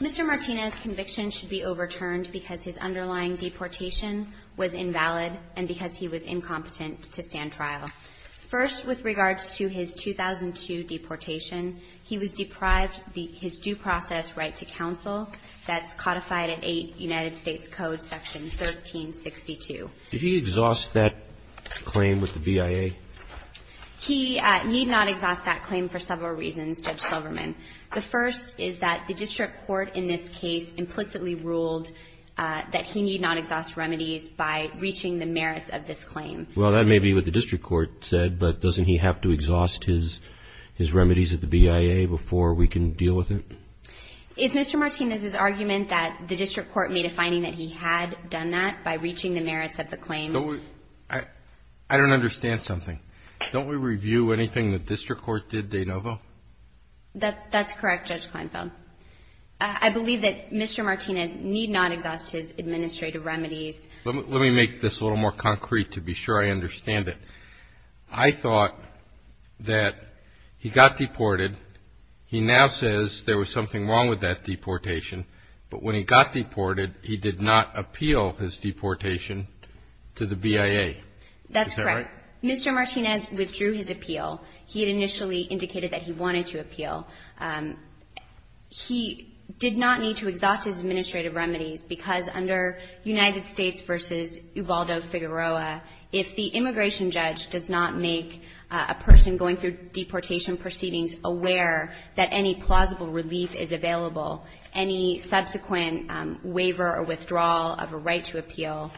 Mr. Martinez conviction should be overturned because his underlying deportation was invalid and because he was incompetent to stand trial. First, with regards to his 2002 deportation, he was deprived his due process right to counsel that's codified at 8 United States Code section 1362. Did he exhaust that claim with the BIA? He need not exhaust that claim for several reasons, Judge Silverman. The first is that the district court in this case implicitly ruled that he need not exhaust remedies by reaching the merits of this claim. Well, that may be what the district court said, but doesn't he have to exhaust his remedies at the BIA before we can deal with it? Is Mr. Martinez's argument that the district court made a finding that he had done that by reaching the merits of the claim? I don't understand something. Don't we review anything the district court did, De Novo? That's correct, Judge Kleinfeld. I believe that Mr. Martinez need not exhaust his administrative remedies. Let me make this a little more concrete to be sure I understand it. I thought that he got deported. He now says there was something wrong with that deportation. But when he got deported, he did not appeal his deportation to the BIA. That's correct. Mr. Martinez withdrew his appeal. He had initially indicated that he wanted to appeal. He did not need to exhaust his administrative remedies because under United States v. Ubaldo Figueroa, if the immigration judge does not make a person going through deportation proceedings aware that any plausible relief is available, any subsequent waiver or withdrawal of a right to appeal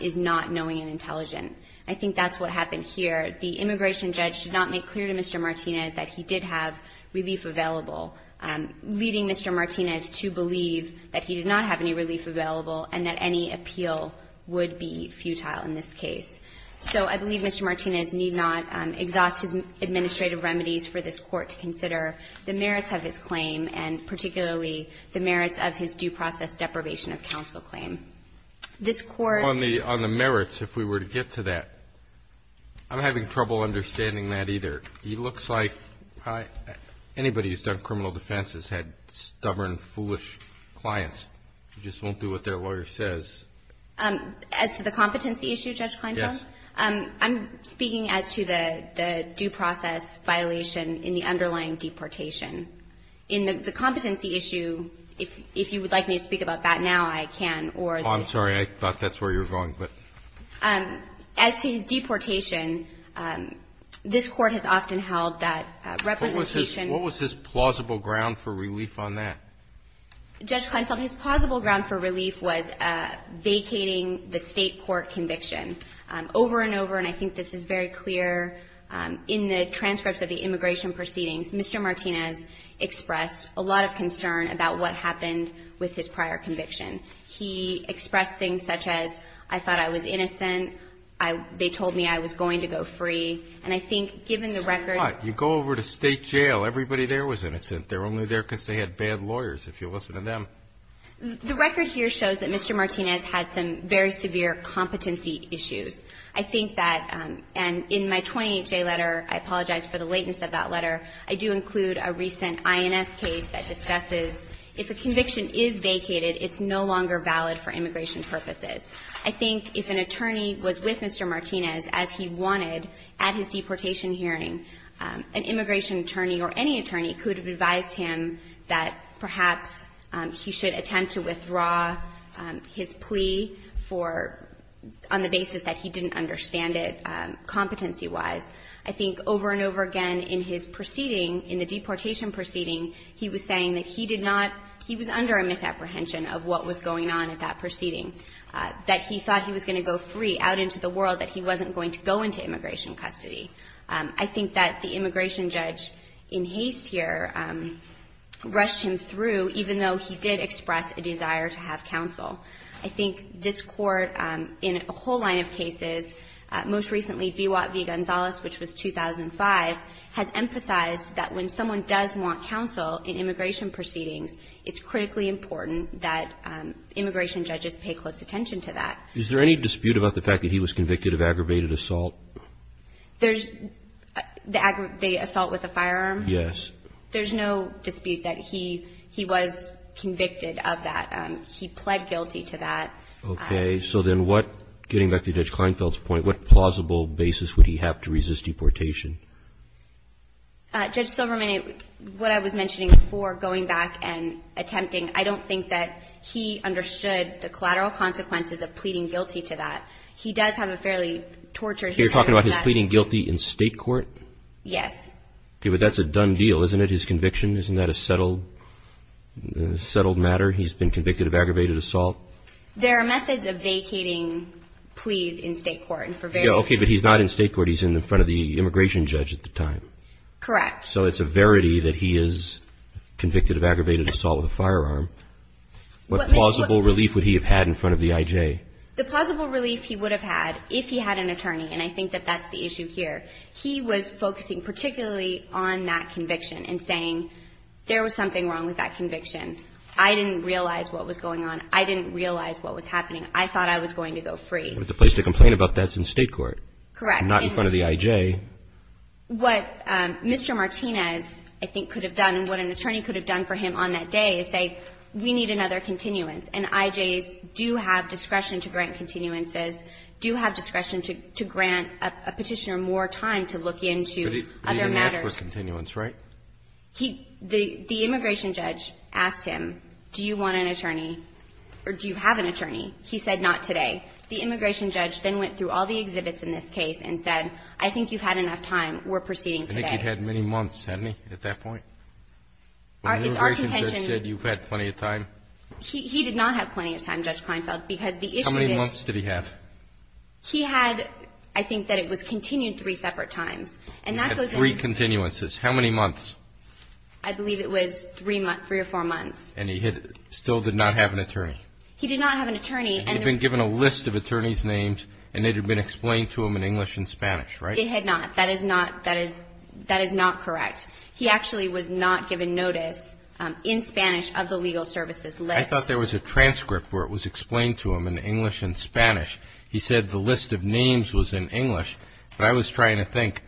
is not knowing and intelligent. I think that's what happened here. The immigration judge did not make clear to Mr. Martinez that he did have relief available, leading Mr. Martinez to believe that he did not have any relief available and that any appeal would be futile in this case. So I believe Mr. Martinez need not exhaust his administrative remedies for this Court to consider the merits of his claim and particularly the merits of his due process deprivation of counsel claim. This Court ---- On the merits, if we were to get to that. I'm having trouble understanding that either. He looks like anybody who's done criminal defense has had stubborn, foolish clients. They just won't do what their lawyer says. As to the competency issue, Judge Kleinfeld? Yes. I'm speaking as to the due process violation in the underlying deportation. In the competency issue, if you would like me to speak about that now, I can, or the ---- I'm sorry. I thought that's where you were going. As to his deportation, this Court has often held that representation ---- What was his plausible ground for relief on that? Judge Kleinfeld, his plausible ground for relief was vacating the State court conviction. Over and over, and I think this is very clear, in the transcripts of the immigration proceedings, Mr. Martinez expressed a lot of concern about what happened with his prior conviction. He expressed things such as, I thought I was innocent. They told me I was going to go free. And I think, given the record ---- So what? You go over to State jail. Everybody there was innocent. They were only there because they had bad lawyers, if you listen to them. The record here shows that Mr. Martinez had some very severe competency issues. I think that, and in my 28-J letter, I apologize for the lateness of that letter, I do include a recent INS case that discusses if a conviction is vacated, it's no longer valid for immigration purposes. I think if an attorney was with Mr. Martinez as he wanted at his deportation hearing, an immigration attorney or any attorney could have advised him that perhaps he should attempt to withdraw his plea for ---- on the basis that he didn't understand it, competency-wise. I think over and over again in his proceeding, in the deportation proceeding, he was saying that he did not ---- he was under a misapprehension of what was going on at that proceeding, that he thought he was going to go free out into the world, that he wasn't going to go into immigration custody. I think that the immigration judge in haste here rushed him through, even though he did express a desire to have counsel. I think this Court, in a whole line of cases, most recently, B. Watt v. Gonzalez, which was 2005, has emphasized that when someone does want counsel in immigration proceedings, it's critically important that immigration judges pay close attention to that. Is there any dispute about the fact that he was convicted of aggravated assault? There's the aggravated assault with a firearm? Yes. There's no dispute that he was convicted of that. He pled guilty to that. Okay. So then what, getting back to Judge Kleinfeld's point, what plausible basis would he have to resist deportation? Judge Silverman, what I was mentioning before, going back and attempting, I don't think that he understood the collateral consequences of pleading guilty to that. He does have a fairly tortured history of that. You're talking about his pleading guilty in state court? Yes. Okay. But that's a done deal, isn't it, his conviction? Isn't that a settled matter, he's been convicted of aggravated assault? There are methods of vacating pleas in state court. Okay. But he's not in state court. He's in front of the immigration judge at the time. Correct. So it's a verity that he is convicted of aggravated assault with a firearm. What plausible relief would he have had in front of the IJ? The plausible relief he would have had if he had an attorney, and I think that that's the issue here, he was focusing particularly on that conviction and saying, there was something wrong with that conviction. I didn't realize what was going on. I didn't realize what was happening. I thought I was going to go free. But the place to complain about that is in state court. Correct. Not in front of the IJ. What Mr. Martinez, I think, could have done and what an attorney could have done for him on that day is say, we need another continuance, and IJs do have discretion to grant continuances, do have discretion to grant a petitioner more time to look into other matters. But he didn't ask for a continuance, right? The immigration judge asked him, do you want an attorney, or do you have an attorney? He said not today. The immigration judge then went through all the exhibits in this case and said, I think you've had enough time. We're proceeding today. I think he'd had many months, hadn't he, at that point? Our contention is that you've had plenty of time. He did not have plenty of time, Judge Kleinfeld, because the issue is he had, I think, that it was continued three separate times. And that goes in. Three continuances. How many months? I believe it was three or four months. And he still did not have an attorney? He did not have an attorney. And he had been given a list of attorneys' names, and it had been explained to him in English and Spanish, right? It had not. That is not correct. He actually was not given notice in Spanish of the legal services list. I thought there was a transcript where it was explained to him in English and Spanish. He said the list of names was in English. But I was trying to think,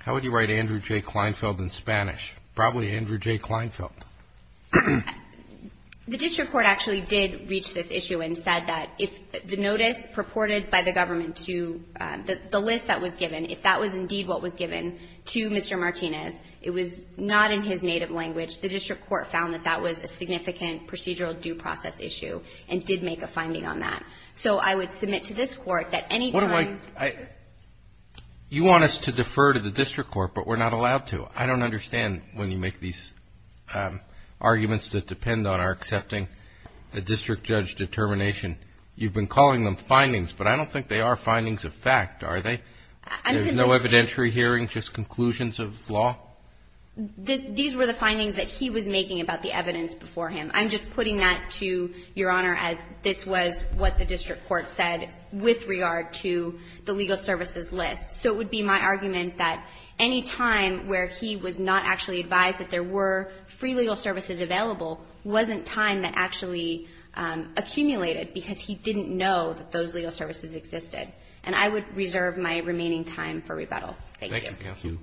how would you write Andrew J. Kleinfeld in Spanish? Probably Andrew J. Kleinfeld. The district court actually did reach this issue and said that if the notice purported by the government to the list that was given, if that was indeed what was given to Mr. Martinez, it was not in his native language. The district court found that that was a significant procedural due process issue and did make a finding on that. So I would submit to this Court that any time ---- You want us to defer to the district court, but we're not allowed to. I don't understand when you make these arguments that depend on our accepting a district judge determination. You've been calling them findings, but I don't think they are findings of fact, are they? There's no evidentiary hearing, just conclusions of law? These were the findings that he was making about the evidence before him. I'm just putting that to Your Honor as this was what the district court said with regard to the legal services list. So it would be my argument that any time where he was not actually advised that there were free legal services available wasn't time that actually accumulated because he didn't know that those legal services existed. And I would reserve my remaining time for rebuttal. Thank you. Thank you.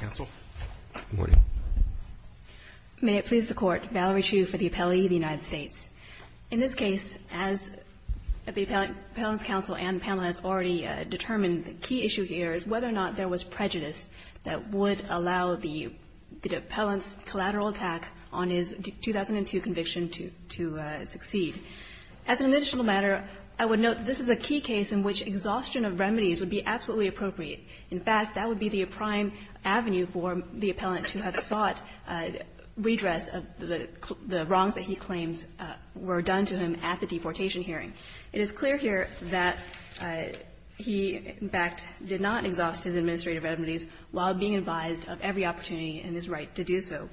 Counsel. Good morning. May it please the Court. Valerie Chu for the Appellee of the United States. In this case, as the Appellant's counsel and panel has already determined, the key issue here is whether or not there was prejudice that would allow the Appellant's As an additional matter, I would note that this is a key case in which exhaustion of remedies would be absolutely appropriate. In fact, that would be the prime avenue for the Appellant to have sought redress of the wrongs that he claims were done to him at the deportation hearing. It is clear here that he, in fact, did not exhaust his administrative remedies while being advised of every opportunity in his right to do so.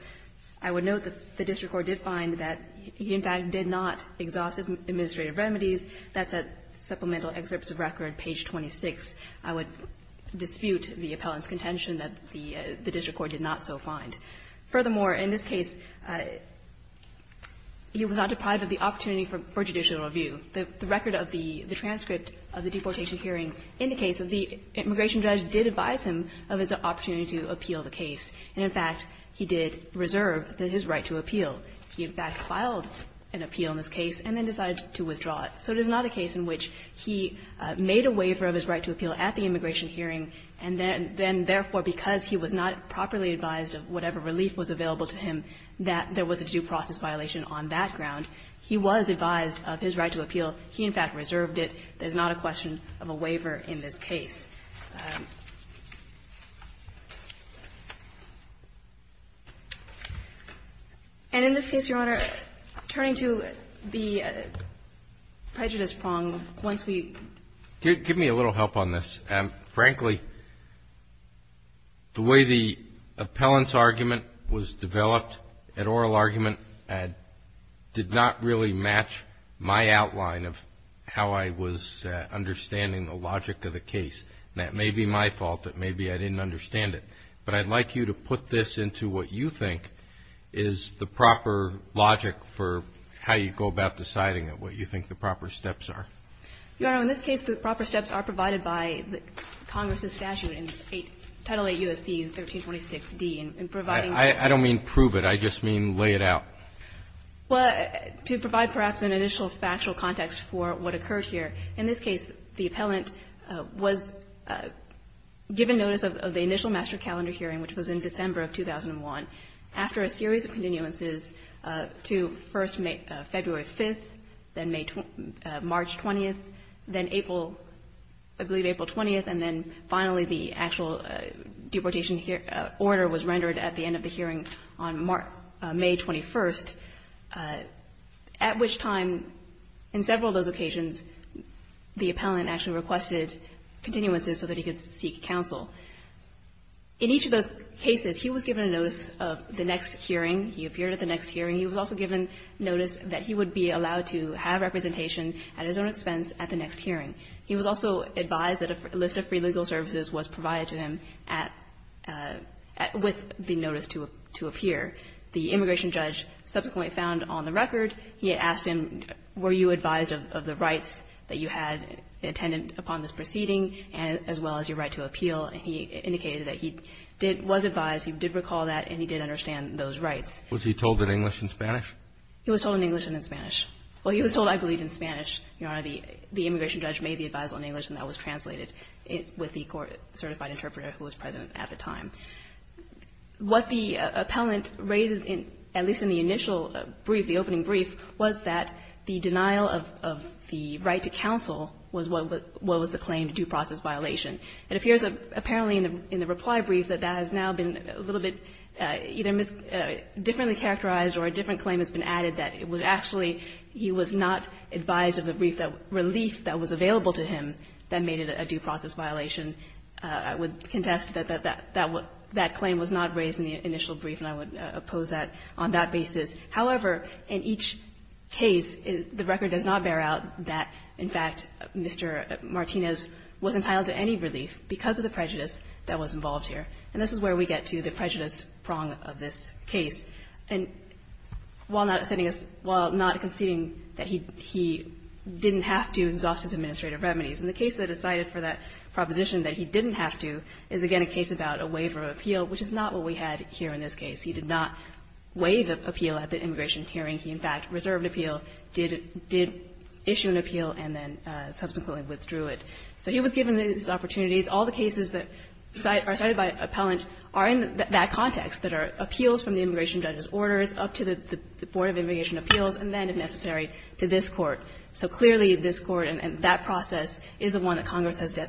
I would note that the district court did find that he, in fact, did not exhaust his administrative remedies. That's at Supplemental Excerpts of Record, page 26. I would dispute the Appellant's contention that the district court did not so find. Furthermore, in this case, he was not deprived of the opportunity for judicial review. The record of the transcript of the deportation hearing indicates that the immigration judge did advise him of his opportunity to appeal the case. And, in fact, he did reserve his right to appeal. He, in fact, filed an appeal in this case and then decided to withdraw it. So it is not a case in which he made a waiver of his right to appeal at the immigration hearing and then therefore, because he was not properly advised of whatever relief was available to him, that there was a due process violation on that ground. He was advised of his right to appeal. He, in fact, reserved it. There is not a question of a waiver in this case. And in this case, Your Honor, turning to the prejudice prong, once we ---- Give me a little help on this. Frankly, the way the Appellant's argument was developed, that oral argument, did not really match my outline of how I was understanding the logic of the case. And that may be my fault, that maybe I didn't understand it. But I'd like you to put this into what you think is the proper logic for how you go about deciding what you think the proper steps are. Your Honor, in this case, the proper steps are provided by Congress's statute in Title 8 U.S.C. 1326d in providing ---- I don't mean prove it. I just mean lay it out. Well, to provide perhaps an initial factual context for what occurred here, in this case, the Appellant was given notice of the initial master calendar hearing, which was in December of 2001, after a series of continuances to first February 5th, then March 20th, then April, I believe April 20th, and then finally the actual deportation order was rendered at the end of the hearing on May 21st, at which time in several of those occasions, the Appellant actually requested continuances so that he could seek counsel. In each of those cases, he was given a notice of the next hearing. He appeared at the next hearing. He was also given notice that he would be allowed to have representation at his own expense at the next hearing. He was also advised that a list of free legal services was provided to him at ---- with the notice to appear. The immigration judge subsequently found on the record he had asked him, were you advised of the rights that you had intended upon this proceeding, as well as your right to appeal? And he indicated that he did ---- was advised, he did recall that, and he did understand those rights. Was he told in English and Spanish? He was told in English and in Spanish. Well, he was told, I believe, in Spanish, Your Honor. The immigration judge made the advice in English, and that was translated with the court certified interpreter who was present at the time. What the Appellant raises, at least in the initial brief, the opening brief, was that the denial of the right to counsel was what was the claim, due process violation. It appears apparently in the reply brief that that has now been a little bit either mischaracterized or a different claim has been added that it would actually, he was not advised of a brief that relief that was available to him that made it a due process violation. I would contest that that claim was not raised in the initial brief, and I would oppose that on that basis. However, in each case, the record does not bear out that, in fact, Mr. Martinez was entitled to any relief because of the prejudice that was involved here. And this is where we get to the prejudice prong of this case. And while not sending us ---- while not conceding that he didn't have to exhaust his administrative remedies, and the case that decided for that proposition that he didn't have to is, again, a case about a waiver of appeal, which is not what we had here in this case. He did not waive appeal at the immigration hearing. He, in fact, reserved appeal, did issue an appeal, and then subsequently withdrew it. So he was given these opportunities. All the cases that are cited by appellant are in that context, that are appeals from the immigration judge's orders up to the Board of Immigration Appeals, and then, if necessary, to this Court. So clearly, this Court and that process is the one that Congress has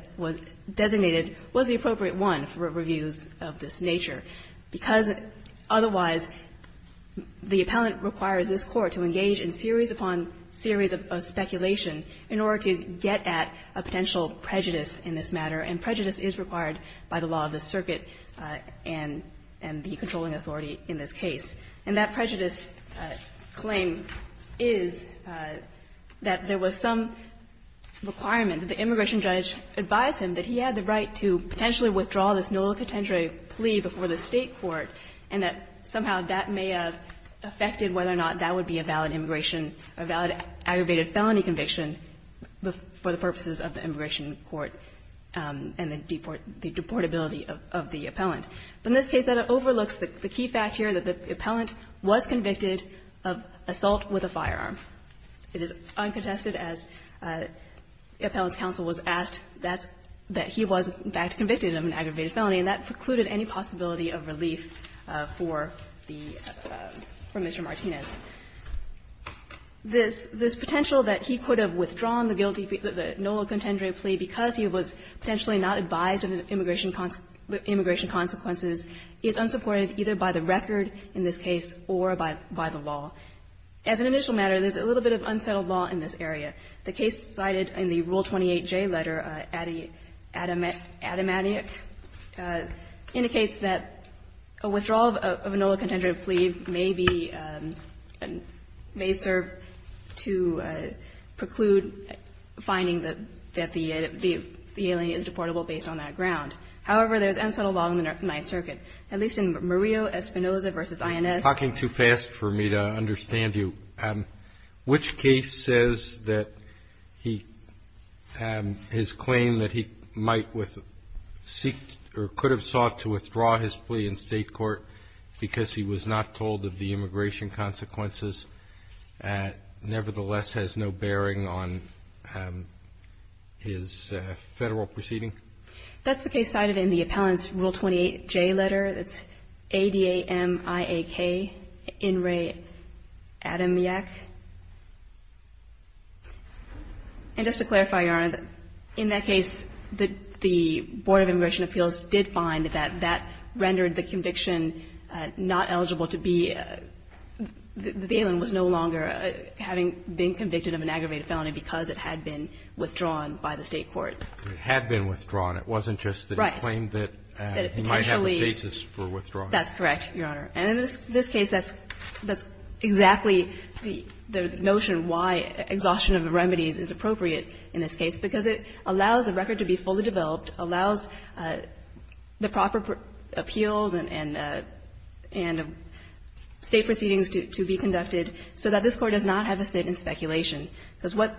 designated was the appropriate one for reviews of this nature, because otherwise the appellant requires this Court to engage in series upon series of speculation in order to get at a potential prejudice in this matter, and prejudice is required by the law of the circuit and the controlling authority in this case. And that prejudice claim is that there was some requirement that the immigration judge advise him that he had the right to potentially withdraw this nullicatendere plea before the State court, and that somehow that may have affected whether or not that would be a valid immigration, a valid aggravated felony conviction for the purposes of the immigration court and the deportability of the appellant. But in this case, that overlooks the key fact here that the appellant was convicted of assault with a firearm. It is uncontested, as appellant's counsel was asked, that he was, in fact, convicted of an aggravated felony, and that precluded any possibility of relief for the Mr. Martinez. This potential that he could have withdrawn the nullicatendere plea because he was potentially not advised of immigration consequences is unsupported either by the record in this case or by the law. As an initial matter, there's a little bit of unsettled law in this area. The case cited in the Rule 28J letter, Adimatiac, indicates that a withdrawal of a nullicatendere plea may be and may serve to preclude finding that the alien is deportable based on that ground. However, there's unsettled law in the Ninth Circuit, at least in Murillo-Espinosa v. INS. Roberts, you're talking too fast for me to understand you. Which case says that he had his claim that he might seek or could have sought to withdraw his plea in State court because he was not told of the immigration consequences nevertheless has no bearing on his Federal proceeding? That's the case cited in the appellant's Rule 28J letter. That's Adimiak, In re Adimiac. And just to clarify, Your Honor, in that case, the Board of Immigration Appeals did find that that rendered the conviction not eligible to be the alien was no longer having been convicted of an aggravated felony because it had been withdrawn by the State court. It had been withdrawn. It wasn't just that he claimed that he might have a basis for withdrawing. That's correct, Your Honor. And in this case, that's exactly the notion why exhaustion of the remedies is appropriate in this case, because it allows a record to be fully developed, allows the proper appeals and State proceedings to be conducted so that this Court does not have a sit in speculation, because what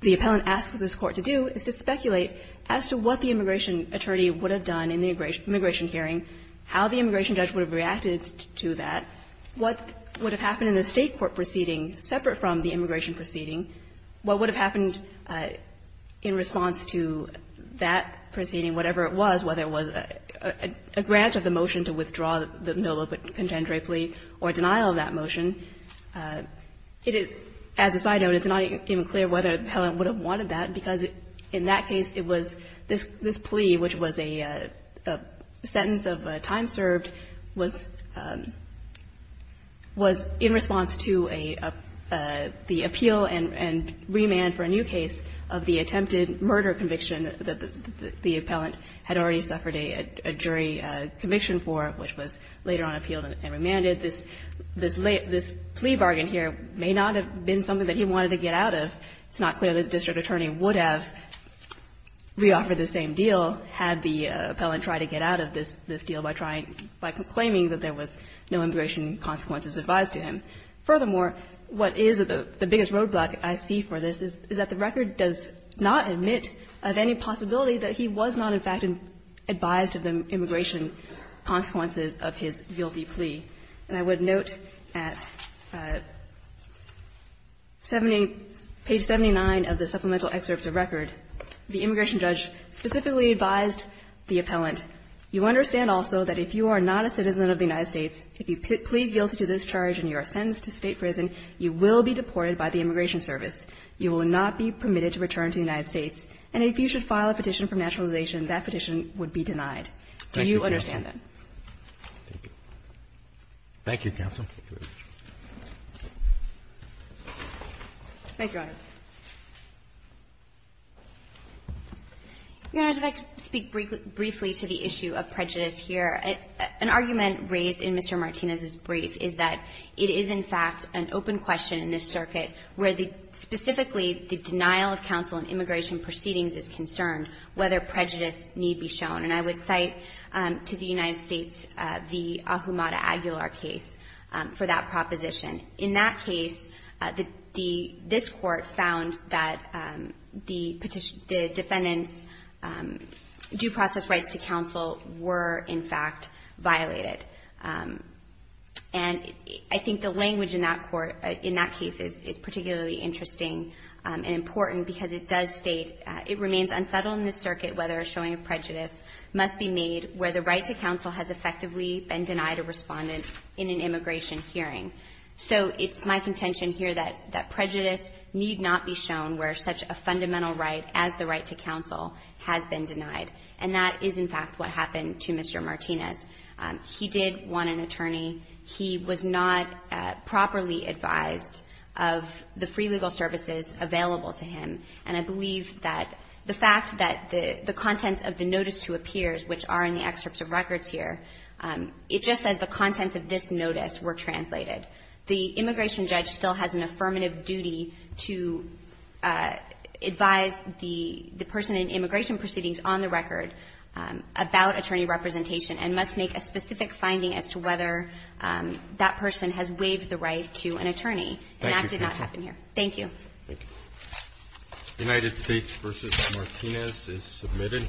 the appellant asks this Court to do is to speculate as to what the immigration attorney would have done in the immigration hearing, how the immigration judge would have reacted to that, what would have happened in the State court proceeding separate from the immigration proceeding, what would have happened in response to that proceeding, whatever it was, whether it was a grant of the motion to withdraw the Milla contendere plea or denial of that motion. It is, as a side note, it's not even clear whether the appellant would have wanted that, because in that case, it was this plea, which was a sentence of time served, was in response to a the appeal and remand for a new case of the attempted murder conviction that the appellant had already suffered a jury conviction, and that was later on appealed and remanded. This plea bargain here may not have been something that he wanted to get out of. It's not clear that the district attorney would have reoffered the same deal had the appellant tried to get out of this deal by trying, by claiming that there was no immigration consequences advised to him. Furthermore, what is the biggest roadblock I see for this is that the record does not admit of any possibility that he was not, in fact, advised of the immigration consequences of his guilty plea. And I would note at page 79 of the supplemental excerpts of record, the immigration judge specifically advised the appellant, you understand also that if you are not a citizen of the United States, if you plead guilty to this charge and you are sentenced to State prison, you will be deported by the Immigration Service. You will not be permitted to return to the United States. And if you should file a petition for naturalization, that petition would be denied. Do you understand that? Roberts. Thank you, counsel. Thank you, Your Honor. Your Honor, if I could speak briefly to the issue of prejudice here. An argument raised in Mr. Martinez's brief is that it is, in fact, an open question in this circuit where the – specifically the denial of counsel in immigration proceedings is concerned whether prejudice need be shown. And I would cite to the United States the Ahumada-Aguilar case for that proposition. In that case, this Court found that the defendant's due process rights to counsel were, in fact, violated. And I think the language in that court – in that case is particularly interesting and important because it does state – it remains unsettled in this circuit whether showing of prejudice must be made where the right to counsel has effectively been denied a respondent in an immigration hearing. So it's my contention here that prejudice need not be shown where such a fundamental right as the right to counsel has been denied. And that is, in fact, what happened to Mr. Martinez. He did want an attorney. He was not properly advised of the free legal services available to him. And I believe that the fact that the contents of the notice to appears, which are in the excerpts of records here, it just says the contents of this notice were translated. The immigration judge still has an affirmative duty to advise the person in immigration proceedings on the record about attorney representation and must make a specific finding as to whether that person has waived the right to an attorney. And that did not happen here. Thank you. Thank you. United States v. Martinez is submitted.